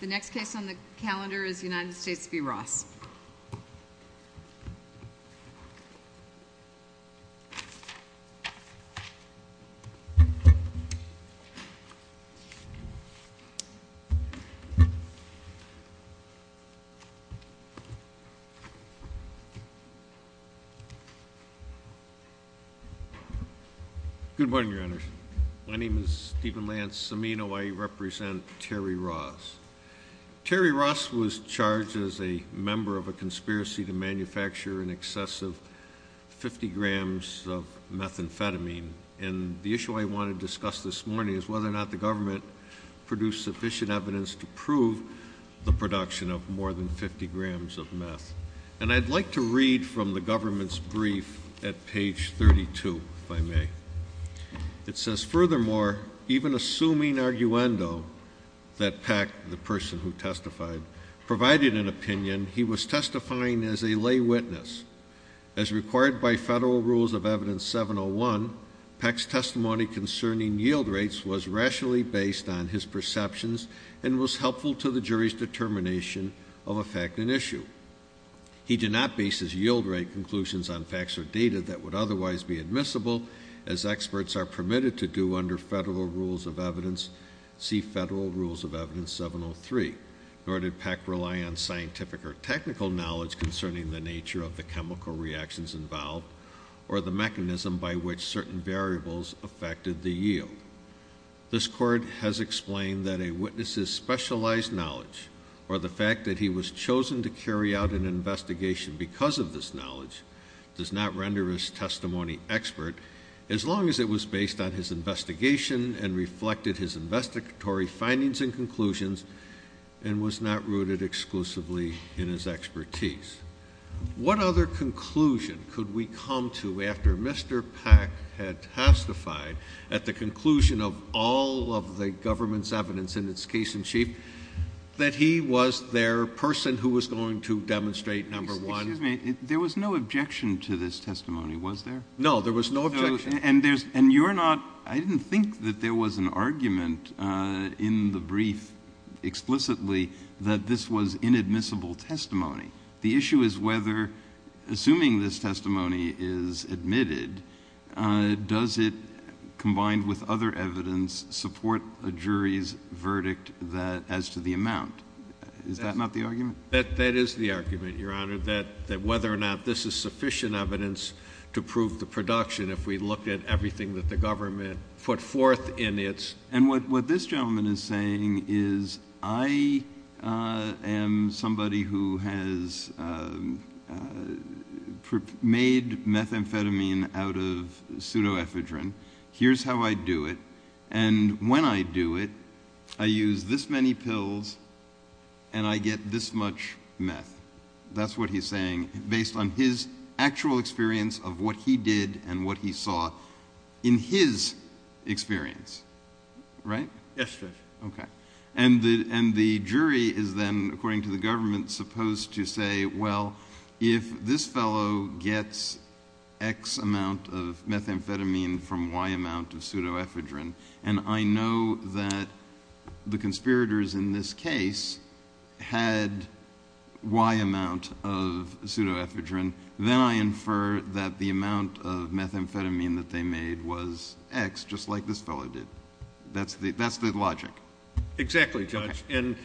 The next case on the calendar is United States v. Ross. Good morning, Your Honors. My name is Stephen Lance Cimino. I represent Terry Ross. Terry Ross was charged as a member of a conspiracy to manufacture an excessive 50 grams of methamphetamine. And the issue I want to discuss this morning is whether or not the government produced sufficient evidence to prove the production of more than 50 grams of meth. And I'd like to read from the government's brief at page 32, if I may. It says, furthermore, even assuming arguendo that Peck, the person who testified, provided an opinion, he was testifying as a lay witness. As required by federal rules of evidence 701, Peck's testimony concerning yield rates was rationally based on his perceptions and was helpful to the jury's determination of a fact and issue. He did not base his yield rate conclusions on facts or data that would otherwise be admissible, as experts are permitted to do under federal rules of evidence, see federal rules of evidence 703. Nor did Peck rely on scientific or technical knowledge concerning the nature of the chemical reactions involved or the mechanism by which certain variables affected the yield. This court has explained that a witness's specialized knowledge or the fact that he was chosen to carry out an investigation because of this knowledge does not render his testimony expert as long as it was based on his investigation and reflected his investigatory findings and conclusions and was not rooted exclusively in his expertise. What other conclusion could we come to after Mr. Peck had testified at the conclusion of all of the government's evidence in its case in chief that he was their person who was going to demonstrate number one? Excuse me, there was no objection to this testimony, was there? No, there was no objection. And you're not, I didn't think that there was an argument in the brief explicitly that this was inadmissible testimony. The issue is whether, assuming this testimony is admitted, does it, combined with other evidence, support a jury's verdict as to the amount? Is that not the argument? That is the argument, Your Honor, that whether or not this is sufficient evidence to prove the production if we look at everything that the government put forth in its... And what this gentleman is saying is I am somebody who has made methamphetamine out of pseudoephedrine. Here's how I do it. And when I do it, I use this many pills and I get this much meth. That's what he's saying based on his actual experience of what he did and what he saw in his experience. Right? Yes, Judge. Okay. And the jury is then, according to the government, supposed to say, well, if this fellow gets X amount of methamphetamine from Y amount of pseudoephedrine, and I know that the conspirators in this case had Y amount of pseudoephedrine, then I infer that the amount of methamphetamine that they made was X, just like this fellow did. That's the logic. Exactly, Judge. And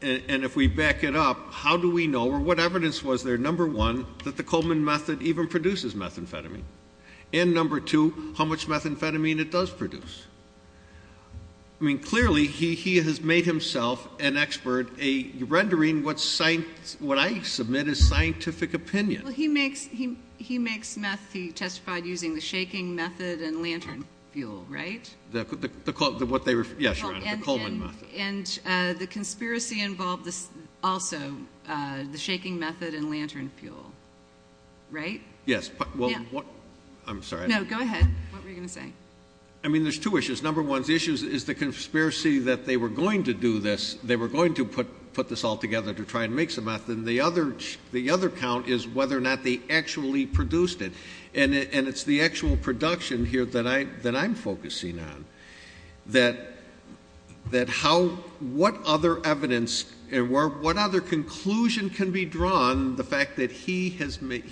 if we back it up, how do we know, or what evidence was there, number one, that the Coleman method even produces methamphetamine, and, number two, how much methamphetamine it does produce? I mean, clearly he has made himself an expert at rendering what I submit as scientific opinion. Well, he makes meth, he testified, using the shaking method and lantern fuel, right? Yes, Your Honor, the Coleman method. And the conspiracy involved also the shaking method and lantern fuel, right? Yes. I'm sorry. No, go ahead. What were you going to say? I mean, there's two issues. Number one, the issue is the conspiracy that they were going to do this, they were going to put this all together to try and make some meth, and the other count is whether or not they actually produced it. And it's the actual production here that I'm focusing on, that what other evidence and what other conclusion can be drawn, the fact that he has made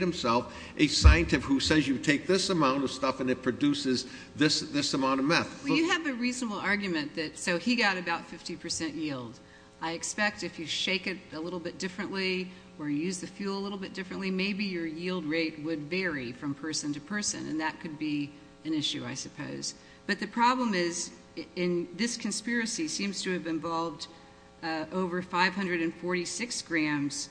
himself a scientist who says you take this amount of stuff and it produces this amount of meth. Well, you have a reasonable argument that so he got about 50% yield. I expect if you shake it a little bit differently or use the fuel a little bit differently, maybe your yield rate would vary from person to person, and that could be an issue, I suppose. But the problem is this conspiracy seems to have involved over 546 grams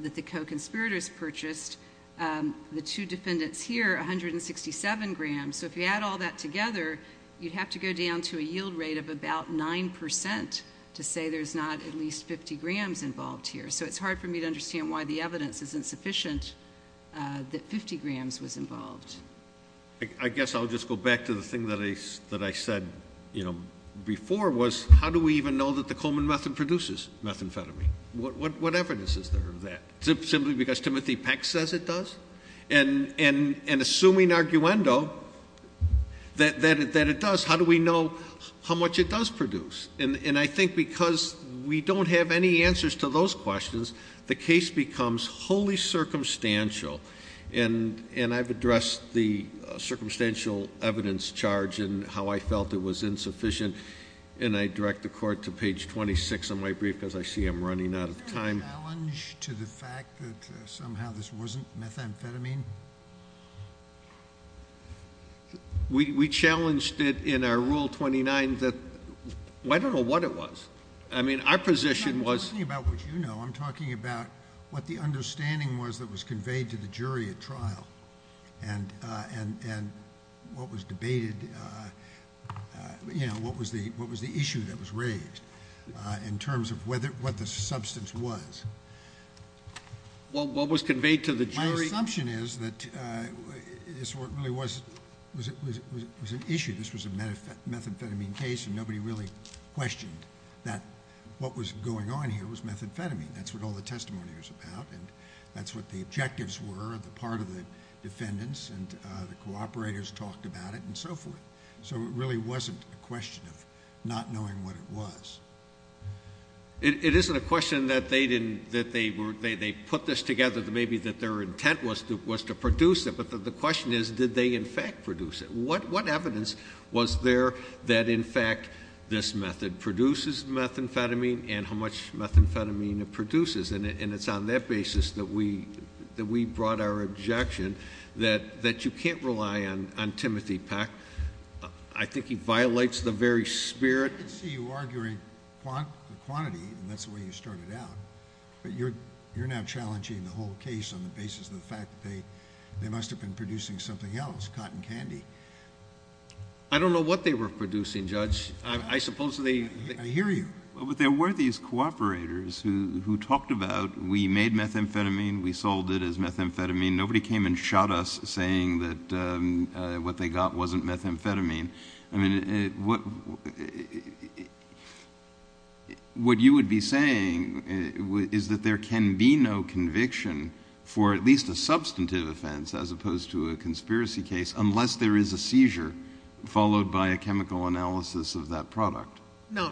that the co-conspirators purchased. The two defendants here, 167 grams. So if you add all that together, you'd have to go down to a yield rate of about 9% to say there's not at least 50 grams involved here. So it's hard for me to understand why the evidence isn't sufficient that 50 grams was involved. I guess I'll just go back to the thing that I said, you know, before, was how do we even know that the Coleman method produces methamphetamine? What evidence is there of that? Is it simply because Timothy Peck says it does? And assuming arguendo that it does, how do we know how much it does produce? And I think because we don't have any answers to those questions, the case becomes wholly circumstantial. And I've addressed the circumstantial evidence charge and how I felt it was insufficient, and I direct the Court to page 26 of my brief because I see I'm running out of time. Was there a challenge to the fact that somehow this wasn't methamphetamine? We challenged it in our Rule 29. I don't know what it was. I mean, our position was. I'm not talking about what you know. I'm talking about what the understanding was that was conveyed to the jury at trial and what was debated, you know, what was the issue that was raised in terms of what the substance was. What was conveyed to the jury? My assumption is that this really was an issue. This was a methamphetamine case, and nobody really questioned that what was going on here was methamphetamine. That's what all the testimony was about, and that's what the objectives were, the part of the defendants and the cooperators talked about it and so forth. So it really wasn't a question of not knowing what it was. It isn't a question that they put this together, maybe that their intent was to produce it, but the question is did they in fact produce it? What evidence was there that in fact this method produces methamphetamine and how much methamphetamine it produces? And it's on that basis that we brought our objection that you can't rely on Timothy Peck. I think he violates the very spirit. I could see you arguing quantity, and that's the way you started out, but you're now challenging the whole case on the basis of the fact that they must have been producing something else, cotton candy. I don't know what they were producing, Judge. I suppose they— I hear you. But there were these cooperators who talked about we made methamphetamine, we sold it as methamphetamine. Nobody came and shot us saying that what they got wasn't methamphetamine. I mean, what you would be saying is that there can be no conviction for at least a substantive offense as opposed to a conspiracy case unless there is a seizure followed by a chemical analysis of that product. No,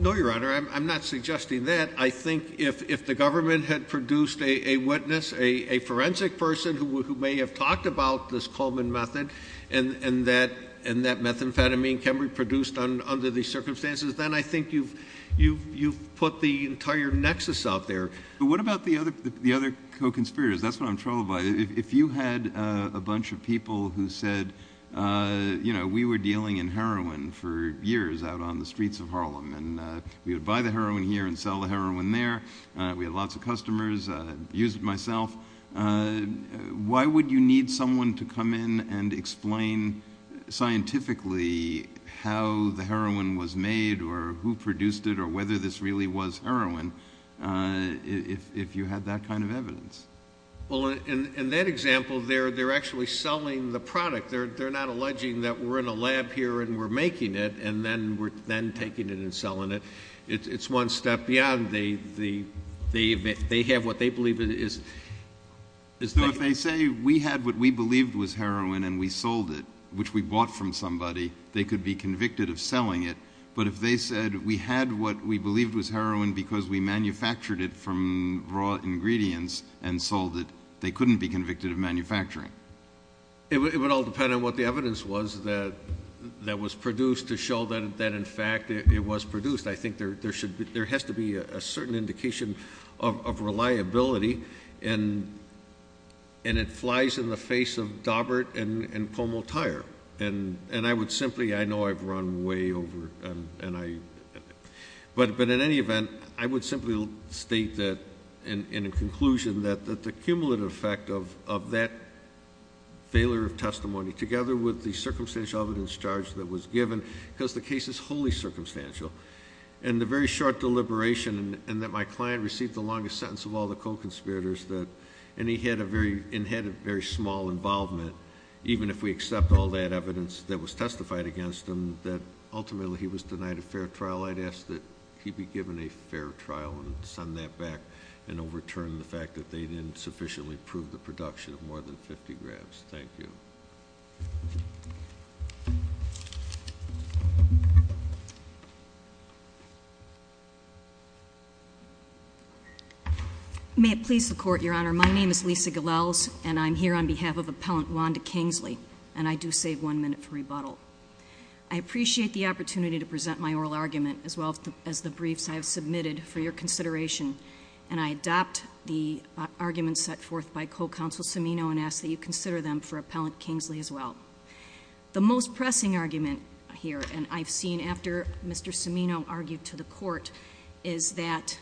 Your Honor. I'm not suggesting that. I think if the government had produced a witness, a forensic person who may have talked about this Coleman method and that methamphetamine can be produced under these circumstances, then I think you've put the entire nexus out there. But what about the other co-conspirators? That's what I'm troubled by. If you had a bunch of people who said, you know, we were dealing in heroin for years out on the streets of Harlem, and we would buy the heroin here and sell the heroin there. We had lots of customers. I use it myself. Why would you need someone to come in and explain scientifically how the heroin was made or who produced it or whether this really was heroin if you had that kind of evidence? Well, in that example, they're actually selling the product. They're not alleging that we're in a lab here and we're making it and then taking it and selling it. It's one step beyond. They have what they believe is. No, if they say we had what we believed was heroin and we sold it, which we bought from somebody, they could be convicted of selling it. But if they said we had what we believed was heroin because we manufactured it from raw ingredients and sold it, they couldn't be convicted of manufacturing. It would all depend on what the evidence was that was produced to show that, in fact, it was produced. I think there has to be a certain indication of reliability, and it flies in the face of Daubert and Pomotire. I know I've run way over, but in any event, I would simply state that in a conclusion that the cumulative effect of that failure of testimony, together with the circumstantial evidence charge that was given, because the case is wholly circumstantial, and the very short deliberation and that my client received the longest sentence of all the co-conspirators, and he had a very small involvement, even if we accept all that evidence that was testified against him, that ultimately he was denied a fair trial, I'd ask that he be given a fair trial and send that back and overturn the fact that they didn't sufficiently prove the production of more than 50 grams. Thank you. Thank you. May it please the Court, Your Honor, my name is Lisa Gilles, and I'm here on behalf of Appellant Wanda Kingsley, and I do save one minute for rebuttal. I appreciate the opportunity to present my oral argument as well as the briefs I have submitted for your consideration, and I adopt the arguments set forth by Co-Counsel Cimino and ask that you consider them for Appellant Kingsley as well. The most pressing argument here, and I've seen after Mr. Cimino argued to the Court, is that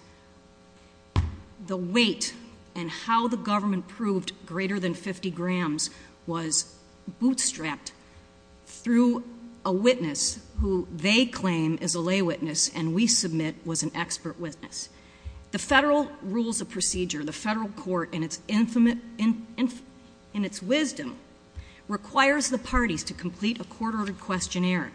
the weight and how the government proved greater than 50 grams was bootstrapped through a witness who they claim is a lay witness and we submit was an expert witness. The federal rules of procedure, the federal court in its wisdom, requires the parties to complete a court-ordered questionnaire.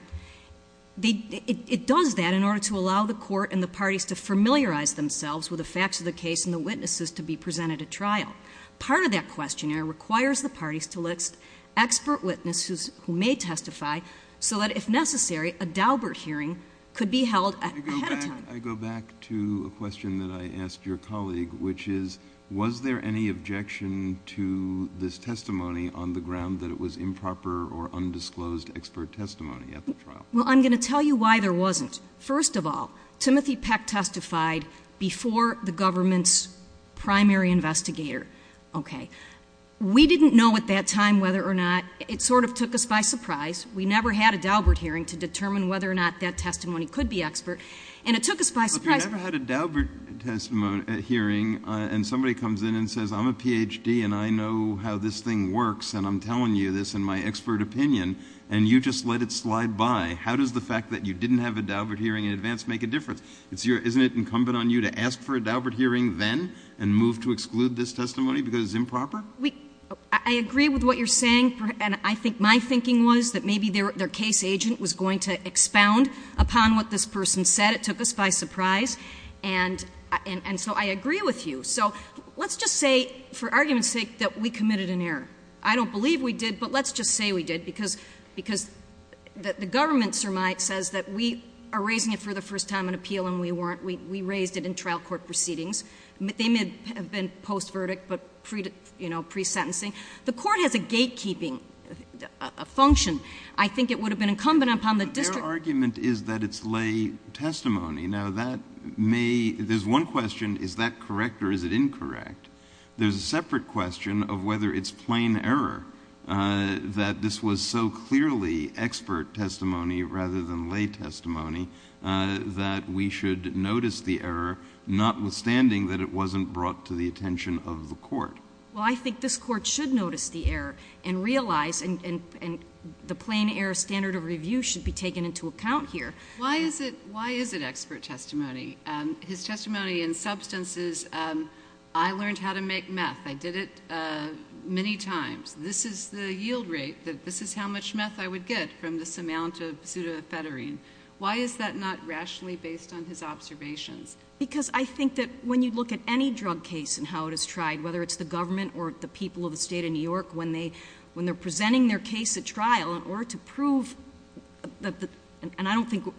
It does that in order to allow the court and the parties to familiarize themselves with the facts of the case and the witnesses to be presented at trial. Part of that questionnaire requires the parties to list expert witnesses who may testify so that, if necessary, a Daubert hearing could be held ahead of time. I go back to a question that I asked your colleague, which is, was there any objection to this testimony on the ground that it was improper or undisclosed expert testimony at the trial? Well, I'm going to tell you why there wasn't. First of all, Timothy Peck testified before the government's primary investigator. Okay. We didn't know at that time whether or not—it sort of took us by surprise. We never had a Daubert hearing to determine whether or not that testimony could be expert, and it took us by surprise. But if you never had a Daubert hearing and somebody comes in and says, I'm a Ph.D. and I know how this thing works and I'm telling you this in my expert opinion, and you just let it slide by, how does the fact that you didn't have a Daubert hearing in advance make a difference? Isn't it incumbent on you to ask for a Daubert hearing then and move to exclude this testimony because it's improper? I agree with what you're saying, and I think my thinking was that maybe their case agent was going to expound upon what this person said. It took us by surprise. And so I agree with you. So let's just say, for argument's sake, that we committed an error. I don't believe we did, but let's just say we did because the government, sir, my, says that we are raising it for the first time in appeal and we raised it in trial court proceedings. They may have been post-verdict but pre-sentencing. The court has a gatekeeping function. I think it would have been incumbent upon the district— Their argument is that it's lay testimony. Now, that may — there's one question, is that correct or is it incorrect? There's a separate question of whether it's plain error that this was so clearly expert testimony rather than lay testimony that we should notice the error, notwithstanding that it wasn't brought to the attention of the court. Well, I think this court should notice the error and realize— and the plain error standard of review should be taken into account here. Why is it expert testimony? His testimony in substance is, I learned how to make meth. I did it many times. This is the yield rate, this is how much meth I would get from this amount of pseudoephedrine. Why is that not rationally based on his observations? Because I think that when you look at any drug case and how it is tried, whether it's the government or the people of the State of New York, when they're presenting their case at trial in order to prove that the — and I don't think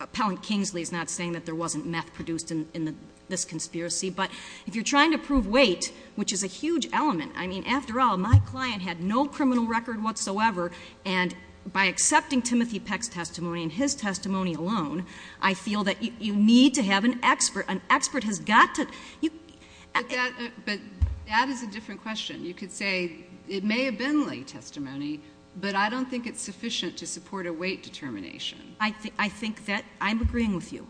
Appellant Kingsley is not saying that there wasn't meth produced in this conspiracy, but if you're trying to prove weight, which is a huge element, I mean, after all, my client had no criminal record whatsoever, and by accepting Timothy Peck's testimony and his testimony alone, I feel that you need to have an expert. An expert has got to — But that is a different question. You could say it may have been late testimony, but I don't think it's sufficient to support a weight determination. I think that I'm agreeing with you,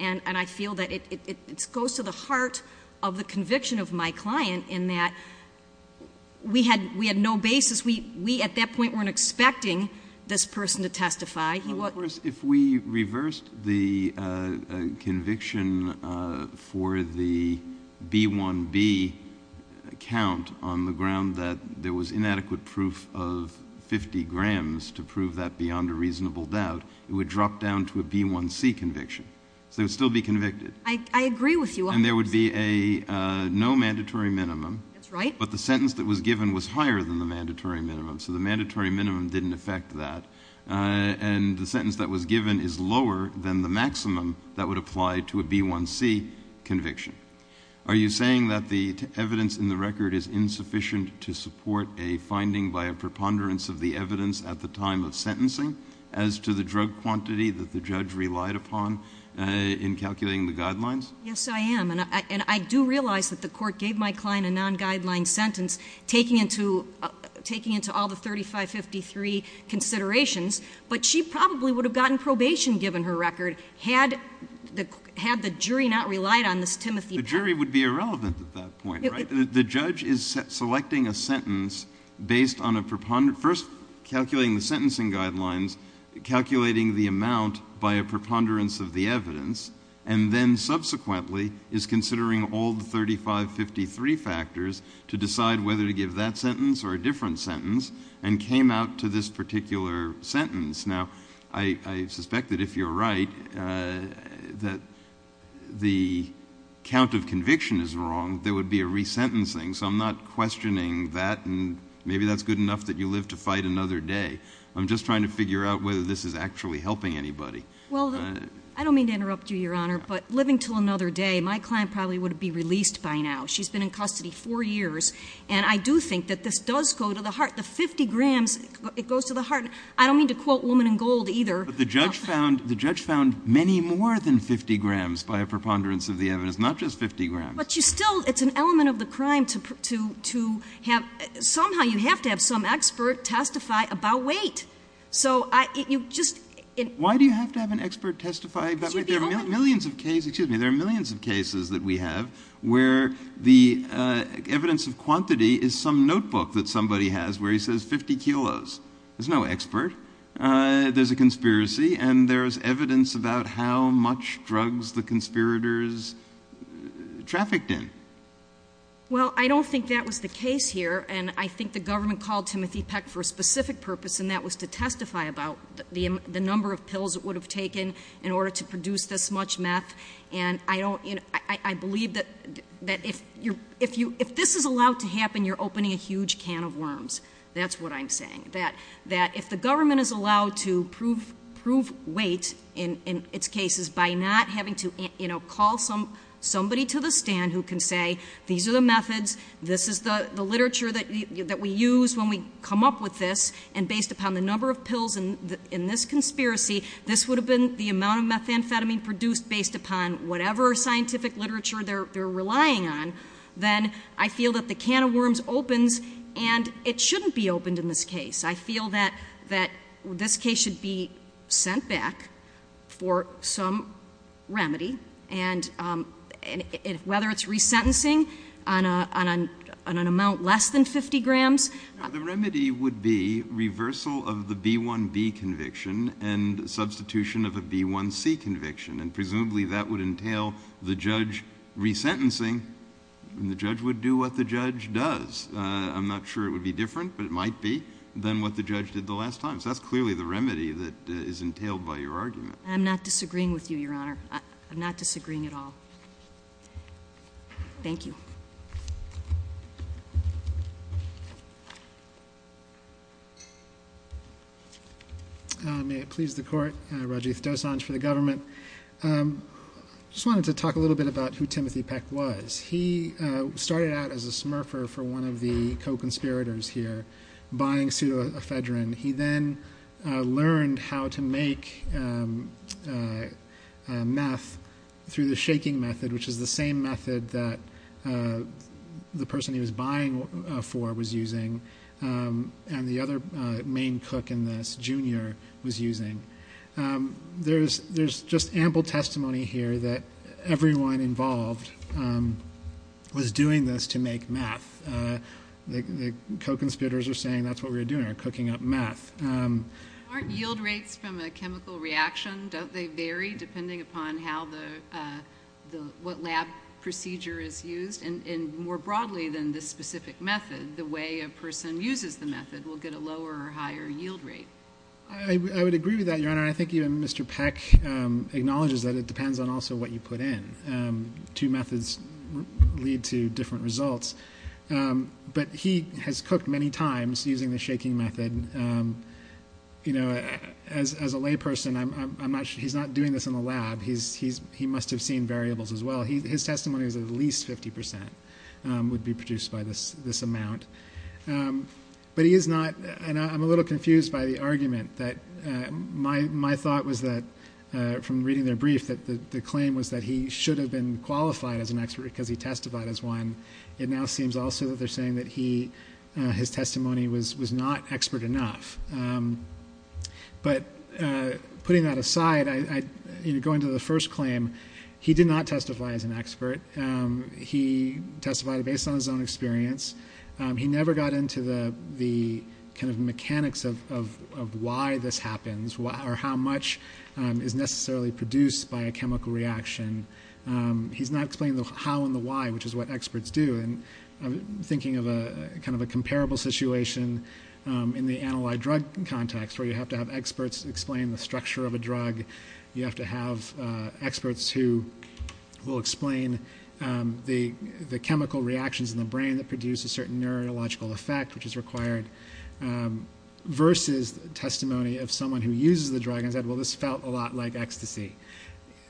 and I feel that it goes to the heart of the conviction of my client in that we had no basis. We, at that point, weren't expecting this person to testify. Well, of course, if we reversed the conviction for the B1B count on the ground that there was inadequate proof of 50 grams to prove that beyond a reasonable doubt, it would drop down to a B1C conviction. So they would still be convicted. I agree with you on this. And there would be a — no mandatory minimum. That's right. But the sentence that was given was higher than the mandatory minimum, so the mandatory minimum didn't affect that. And the sentence that was given is lower than the maximum that would apply to a B1C conviction. Are you saying that the evidence in the record is insufficient to support a finding by a preponderance of the evidence at the time of sentencing as to the drug quantity that the judge relied upon in calculating the guidelines? Yes, I am. And I do realize that the court gave my client a non-guideline sentence taking into all the 3553 considerations, but she probably would have gotten probation given her record had the jury not relied on this Timothy patent. The jury would be irrelevant at that point, right? The judge is selecting a sentence based on a — first calculating the sentencing guidelines, calculating the amount by a preponderance of the evidence, and then subsequently is considering all the 3553 factors to decide whether to give that sentence or a different sentence and came out to this particular sentence. Now, I suspect that if you're right, that the count of conviction is wrong, there would be a resentencing. So I'm not questioning that, and maybe that's good enough that you live to fight another day. I'm just trying to figure out whether this is actually helping anybody. Well, I don't mean to interrupt you, Your Honor, but living to another day, my client probably would have been released by now. She's been in custody four years, and I do think that this does go to the heart. The 50 grams, it goes to the heart. I don't mean to quote Woman in Gold either. But the judge found many more than 50 grams by a preponderance of the evidence, not just 50 grams. But you still – it's an element of the crime to have – somehow you have to have some expert testify about weight. So you just – Why do you have to have an expert testify? There are millions of cases that we have where the evidence of quantity is some notebook that somebody has where he says 50 kilos. There's no expert. There's a conspiracy, and there's evidence about how much drugs the conspirators trafficked in. Well, I don't think that was the case here, and I think the government called Timothy Peck for a specific purpose, and that was to testify about the number of pills it would have taken in order to produce this much meth. And I don't – I believe that if this is allowed to happen, you're opening a huge can of worms. That's what I'm saying. That if the government is allowed to prove weight in its cases by not having to call somebody to the stand who can say, these are the methods, this is the literature that we use when we come up with this, and based upon the number of pills in this conspiracy, this would have been the amount of methamphetamine produced based upon whatever scientific literature they're relying on, then I feel that the can of worms opens, and it shouldn't be opened in this case. I feel that this case should be sent back for some remedy, and whether it's resentencing on an amount less than 50 grams. The remedy would be reversal of the B1B conviction and substitution of a B1C conviction, and presumably that would entail the judge resentencing, and the judge would do what the judge does. I'm not sure it would be different, but it might be, than what the judge did the last time. So that's clearly the remedy that is entailed by your argument. I'm not disagreeing with you, Your Honor. I'm not disagreeing at all. Thank you. May it please the court. Rajiv Dosanjh for the government. I just wanted to talk a little bit about who Timothy Peck was. He started out as a smurfer for one of the co-conspirators here, buying pseudoephedrine. He then learned how to make meth through the shaking method, which is the same method that the person he was buying for was using, and the other main cook in this, Junior, was using. There's just ample testimony here that everyone involved was doing this to make meth. The co-conspirators are saying that's what we were doing, we were cooking up meth. Aren't yield rates from a chemical reaction, don't they vary depending upon what lab procedure is used? And more broadly than this specific method, the way a person uses the method will get a lower or higher yield rate. I would agree with that, Your Honor. I think even Mr. Peck acknowledges that it depends on also what you put in. Two methods lead to different results. But he has cooked many times using the shaking method. As a layperson, he's not doing this in the lab. He must have seen variables as well. His testimony is at least 50% would be produced by this amount. But he is not, and I'm a little confused by the argument. My thought was that, from reading their brief, that the claim was that he should have been qualified as an expert because he testified as one. It now seems also that they're saying that his testimony was not expert enough. But putting that aside, going to the first claim, he did not testify as an expert. He testified based on his own experience. He never got into the kind of mechanics of why this happens or how much is necessarily produced by a chemical reaction. He's not explaining the how and the why, which is what experts do. I'm thinking of kind of a comparable situation in the analyte drug context where you have to have experts explain the structure of a drug. You have to have experts who will explain the chemical reactions in the brain that produce a certain neurological effect, which is required, versus testimony of someone who uses the drug and said, well, this felt a lot like ecstasy.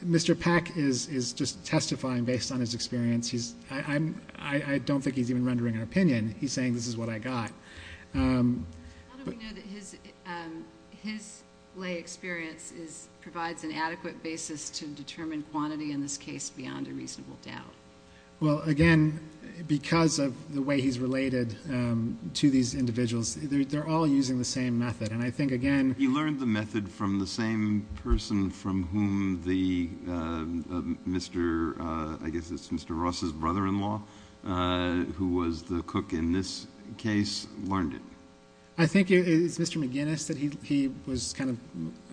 Mr. Pack is just testifying based on his experience. I don't think he's even rendering an opinion. He's saying this is what I got. How do we know that his lay experience provides an adequate basis to determine quantity in this case beyond a reasonable doubt? Well, again, because of the way he's related to these individuals, they're all using the same method. He learned the method from the same person from whom Mr. Ross's brother-in-law, who was the cook in this case, learned it. I think it's Mr. McGinnis that he was kind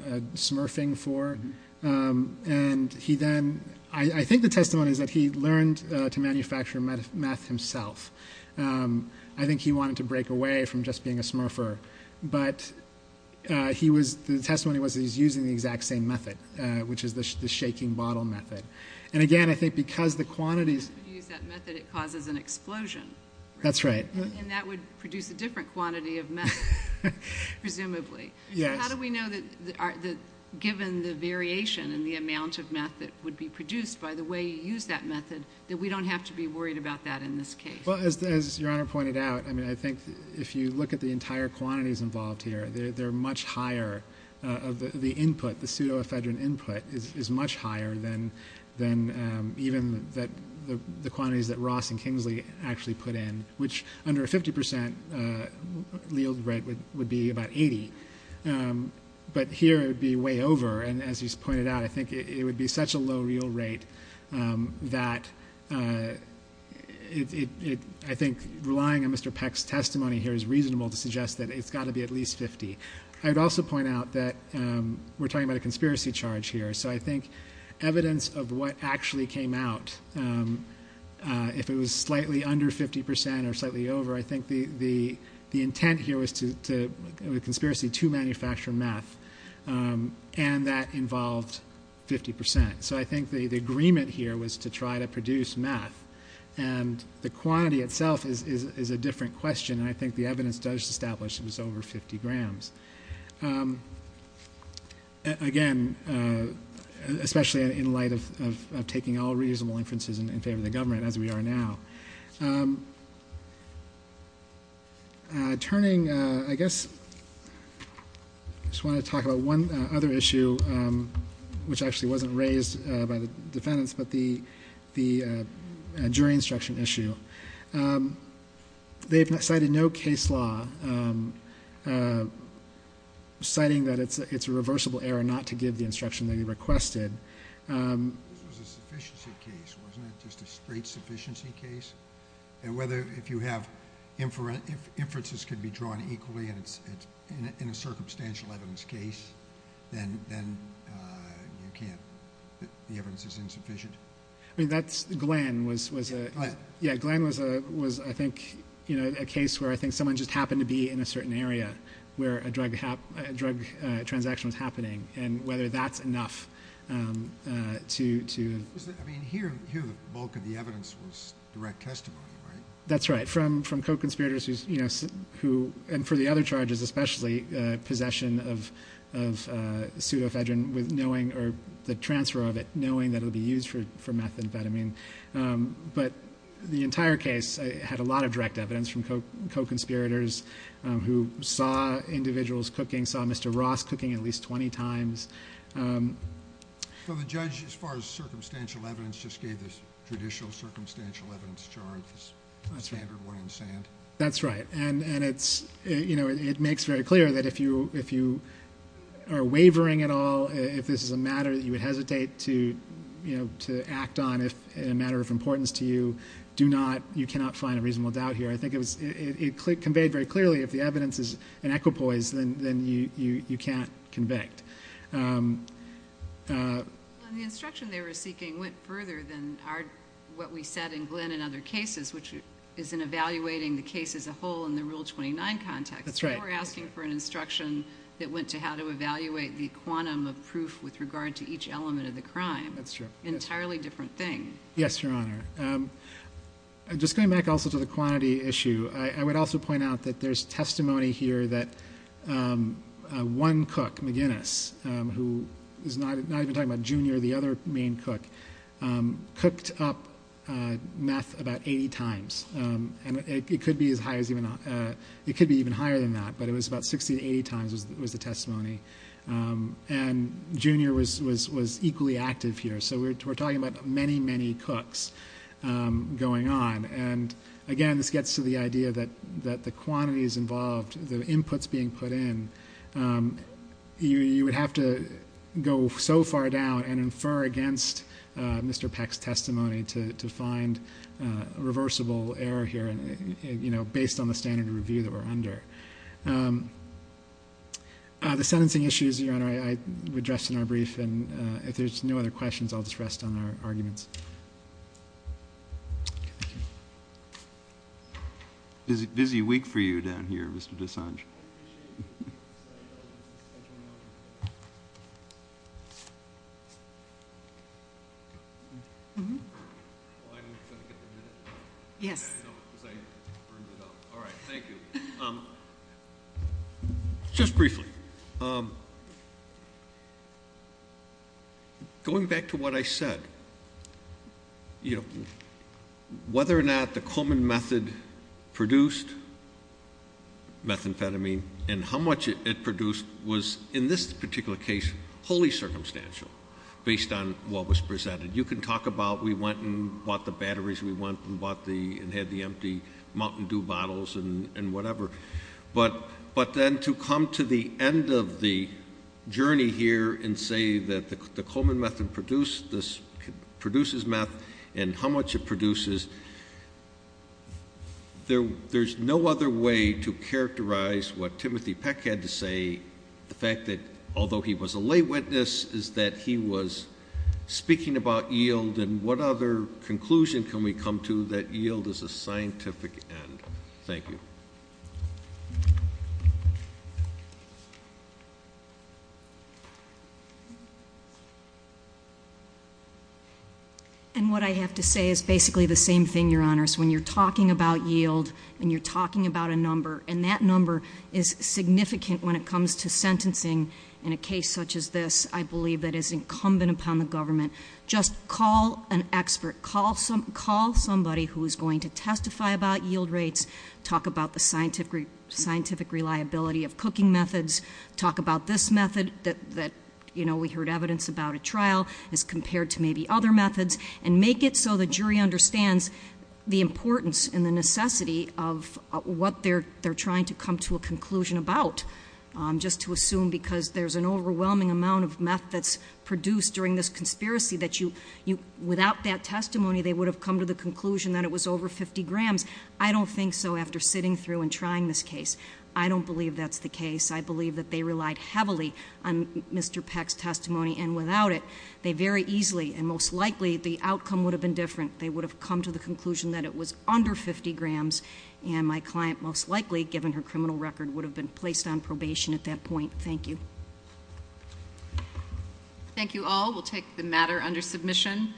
of smurfing for, and I think the testimony is that he learned to manufacture meth himself. I think he wanted to break away from just being a smurfer, but the testimony was that he's using the exact same method, which is the shaking bottle method. And again, I think because the quantities... If you use that method, it causes an explosion. That's right. And that would produce a different quantity of meth, presumably. So how do we know that given the variation in the amount of meth that would be produced by the way you use that method that we don't have to be worried about that in this case? Well, as Your Honor pointed out, I think if you look at the entire quantities involved here, they're much higher, the input, the pseudoephedrine input is much higher than even the quantities that Ross and Kingsley actually put in, which under a 50% yield rate would be about 80%. But here it would be way over, and as he's pointed out, I think it would be such a low yield rate that I think relying on Mr. Peck's testimony here is reasonable to suggest that it's got to be at least 50%. I would also point out that we're talking about a conspiracy charge here, so I think evidence of what actually came out, if it was slightly under 50% or slightly over, I think the intent here was a conspiracy to manufacture meth, and that involved 50%. So I think the agreement here was to try to produce meth, and the quantity itself is a different question, and I think the evidence does establish it was over 50 grams. Again, especially in light of taking all reasonable inferences in favor of the government, as we are now. Turning, I guess, I just want to talk about one other issue, which actually wasn't raised by the defendants, but the jury instruction issue. They've cited no case law, citing that it's a reversible error not to give the instruction that he requested. This was a sufficiency case, wasn't it? Just a straight sufficiency case? And whether if you have inferences can be drawn equally in a circumstantial evidence case, then you can't, the evidence is insufficient. Glenn was, I think, a case where I think someone just happened to be in a certain area where a drug transaction was happening, and whether that's enough to... I mean, here the bulk of the evidence was direct testimony, right? That's right, from co-conspirators who, and for the other charges especially, possession of pseudoephedrine with knowing, or the transfer of it, knowing that it would be used for methamphetamine. But the entire case had a lot of direct evidence from co-conspirators who saw individuals cooking, saw Mr. Ross cooking at least 20 times. So the judge, as far as circumstantial evidence, just gave this judicial circumstantial evidence charge, this standard one in sand? That's right. And it makes very clear that if you are wavering at all, if this is a matter that you would hesitate to act on in a matter of importance to you, you cannot find a reasonable doubt here. I think it conveyed very clearly if the evidence is an equipoise, then you can't convict. The instruction they were seeking went further than what we said in Glenn and other cases, which is in evaluating the case as a whole in the Rule 29 context. That's right. They were asking for an instruction that went to how to evaluate the quantum of proof with regard to each element of the crime. That's true. An entirely different thing. Yes, Your Honor. Just going back also to the quantity issue, I would also point out that there's testimony here that one cook, McGinnis, who is not even talking about Junior, the other main cook, cooked up meth about 80 times. And it could be even higher than that, but it was about 60 to 80 times was the testimony. And Junior was equally active here. So we're talking about many, many cooks going on. And, again, this gets to the idea that the quantities involved, the inputs being put in, you would have to go so far down and infer against Mr. Peck's testimony to find a reversible error here based on the standard of review that we're under. The sentencing issues, Your Honor, I would address in our brief. And if there's no other questions, I'll just rest on our arguments. Thank you. Busy week for you down here, Mr. Dessange. Yes. All right. Thank you. Just briefly, going back to what I said, whether or not the Coleman method produced methamphetamine and how much it produced was, in this particular case, wholly circumstantial based on what was presented. You can talk about we went and bought the batteries we want and had the empty Mountain Dew bottles and whatever. But then to come to the end of the journey here and say that the Coleman method produces meth and how much it produces, there's no other way to characterize what Timothy Peck had to say. The fact that, although he was a lay witness, is that he was speaking about yield. And what other conclusion can we come to that yield is a scientific end? Thank you. And what I have to say is basically the same thing, Your Honors. When you're talking about yield and you're talking about a number, and that number is significant when it comes to sentencing in a case such as this, I believe that is incumbent upon the government. Just call an expert. Call somebody who is going to testify about yield rates. Talk about the scientific reliability of cooking methods. Talk about this method that we heard evidence about at trial as compared to maybe other methods. And make it so the jury understands the importance and the necessity of what they're trying to come to a conclusion about. Just to assume because there's an overwhelming amount of meth that's produced during this conspiracy that without that testimony they would have come to the conclusion that it was over 50 grams. I don't think so after sitting through and trying this case. I don't believe that's the case. I believe that they relied heavily on Mr. Peck's testimony. And without it, they very easily and most likely the outcome would have been different. They would have come to the conclusion that it was under 50 grams. And my client most likely, given her criminal record, would have been placed on probation at that point. Thank you. Thank you all. We'll take the matter under submission.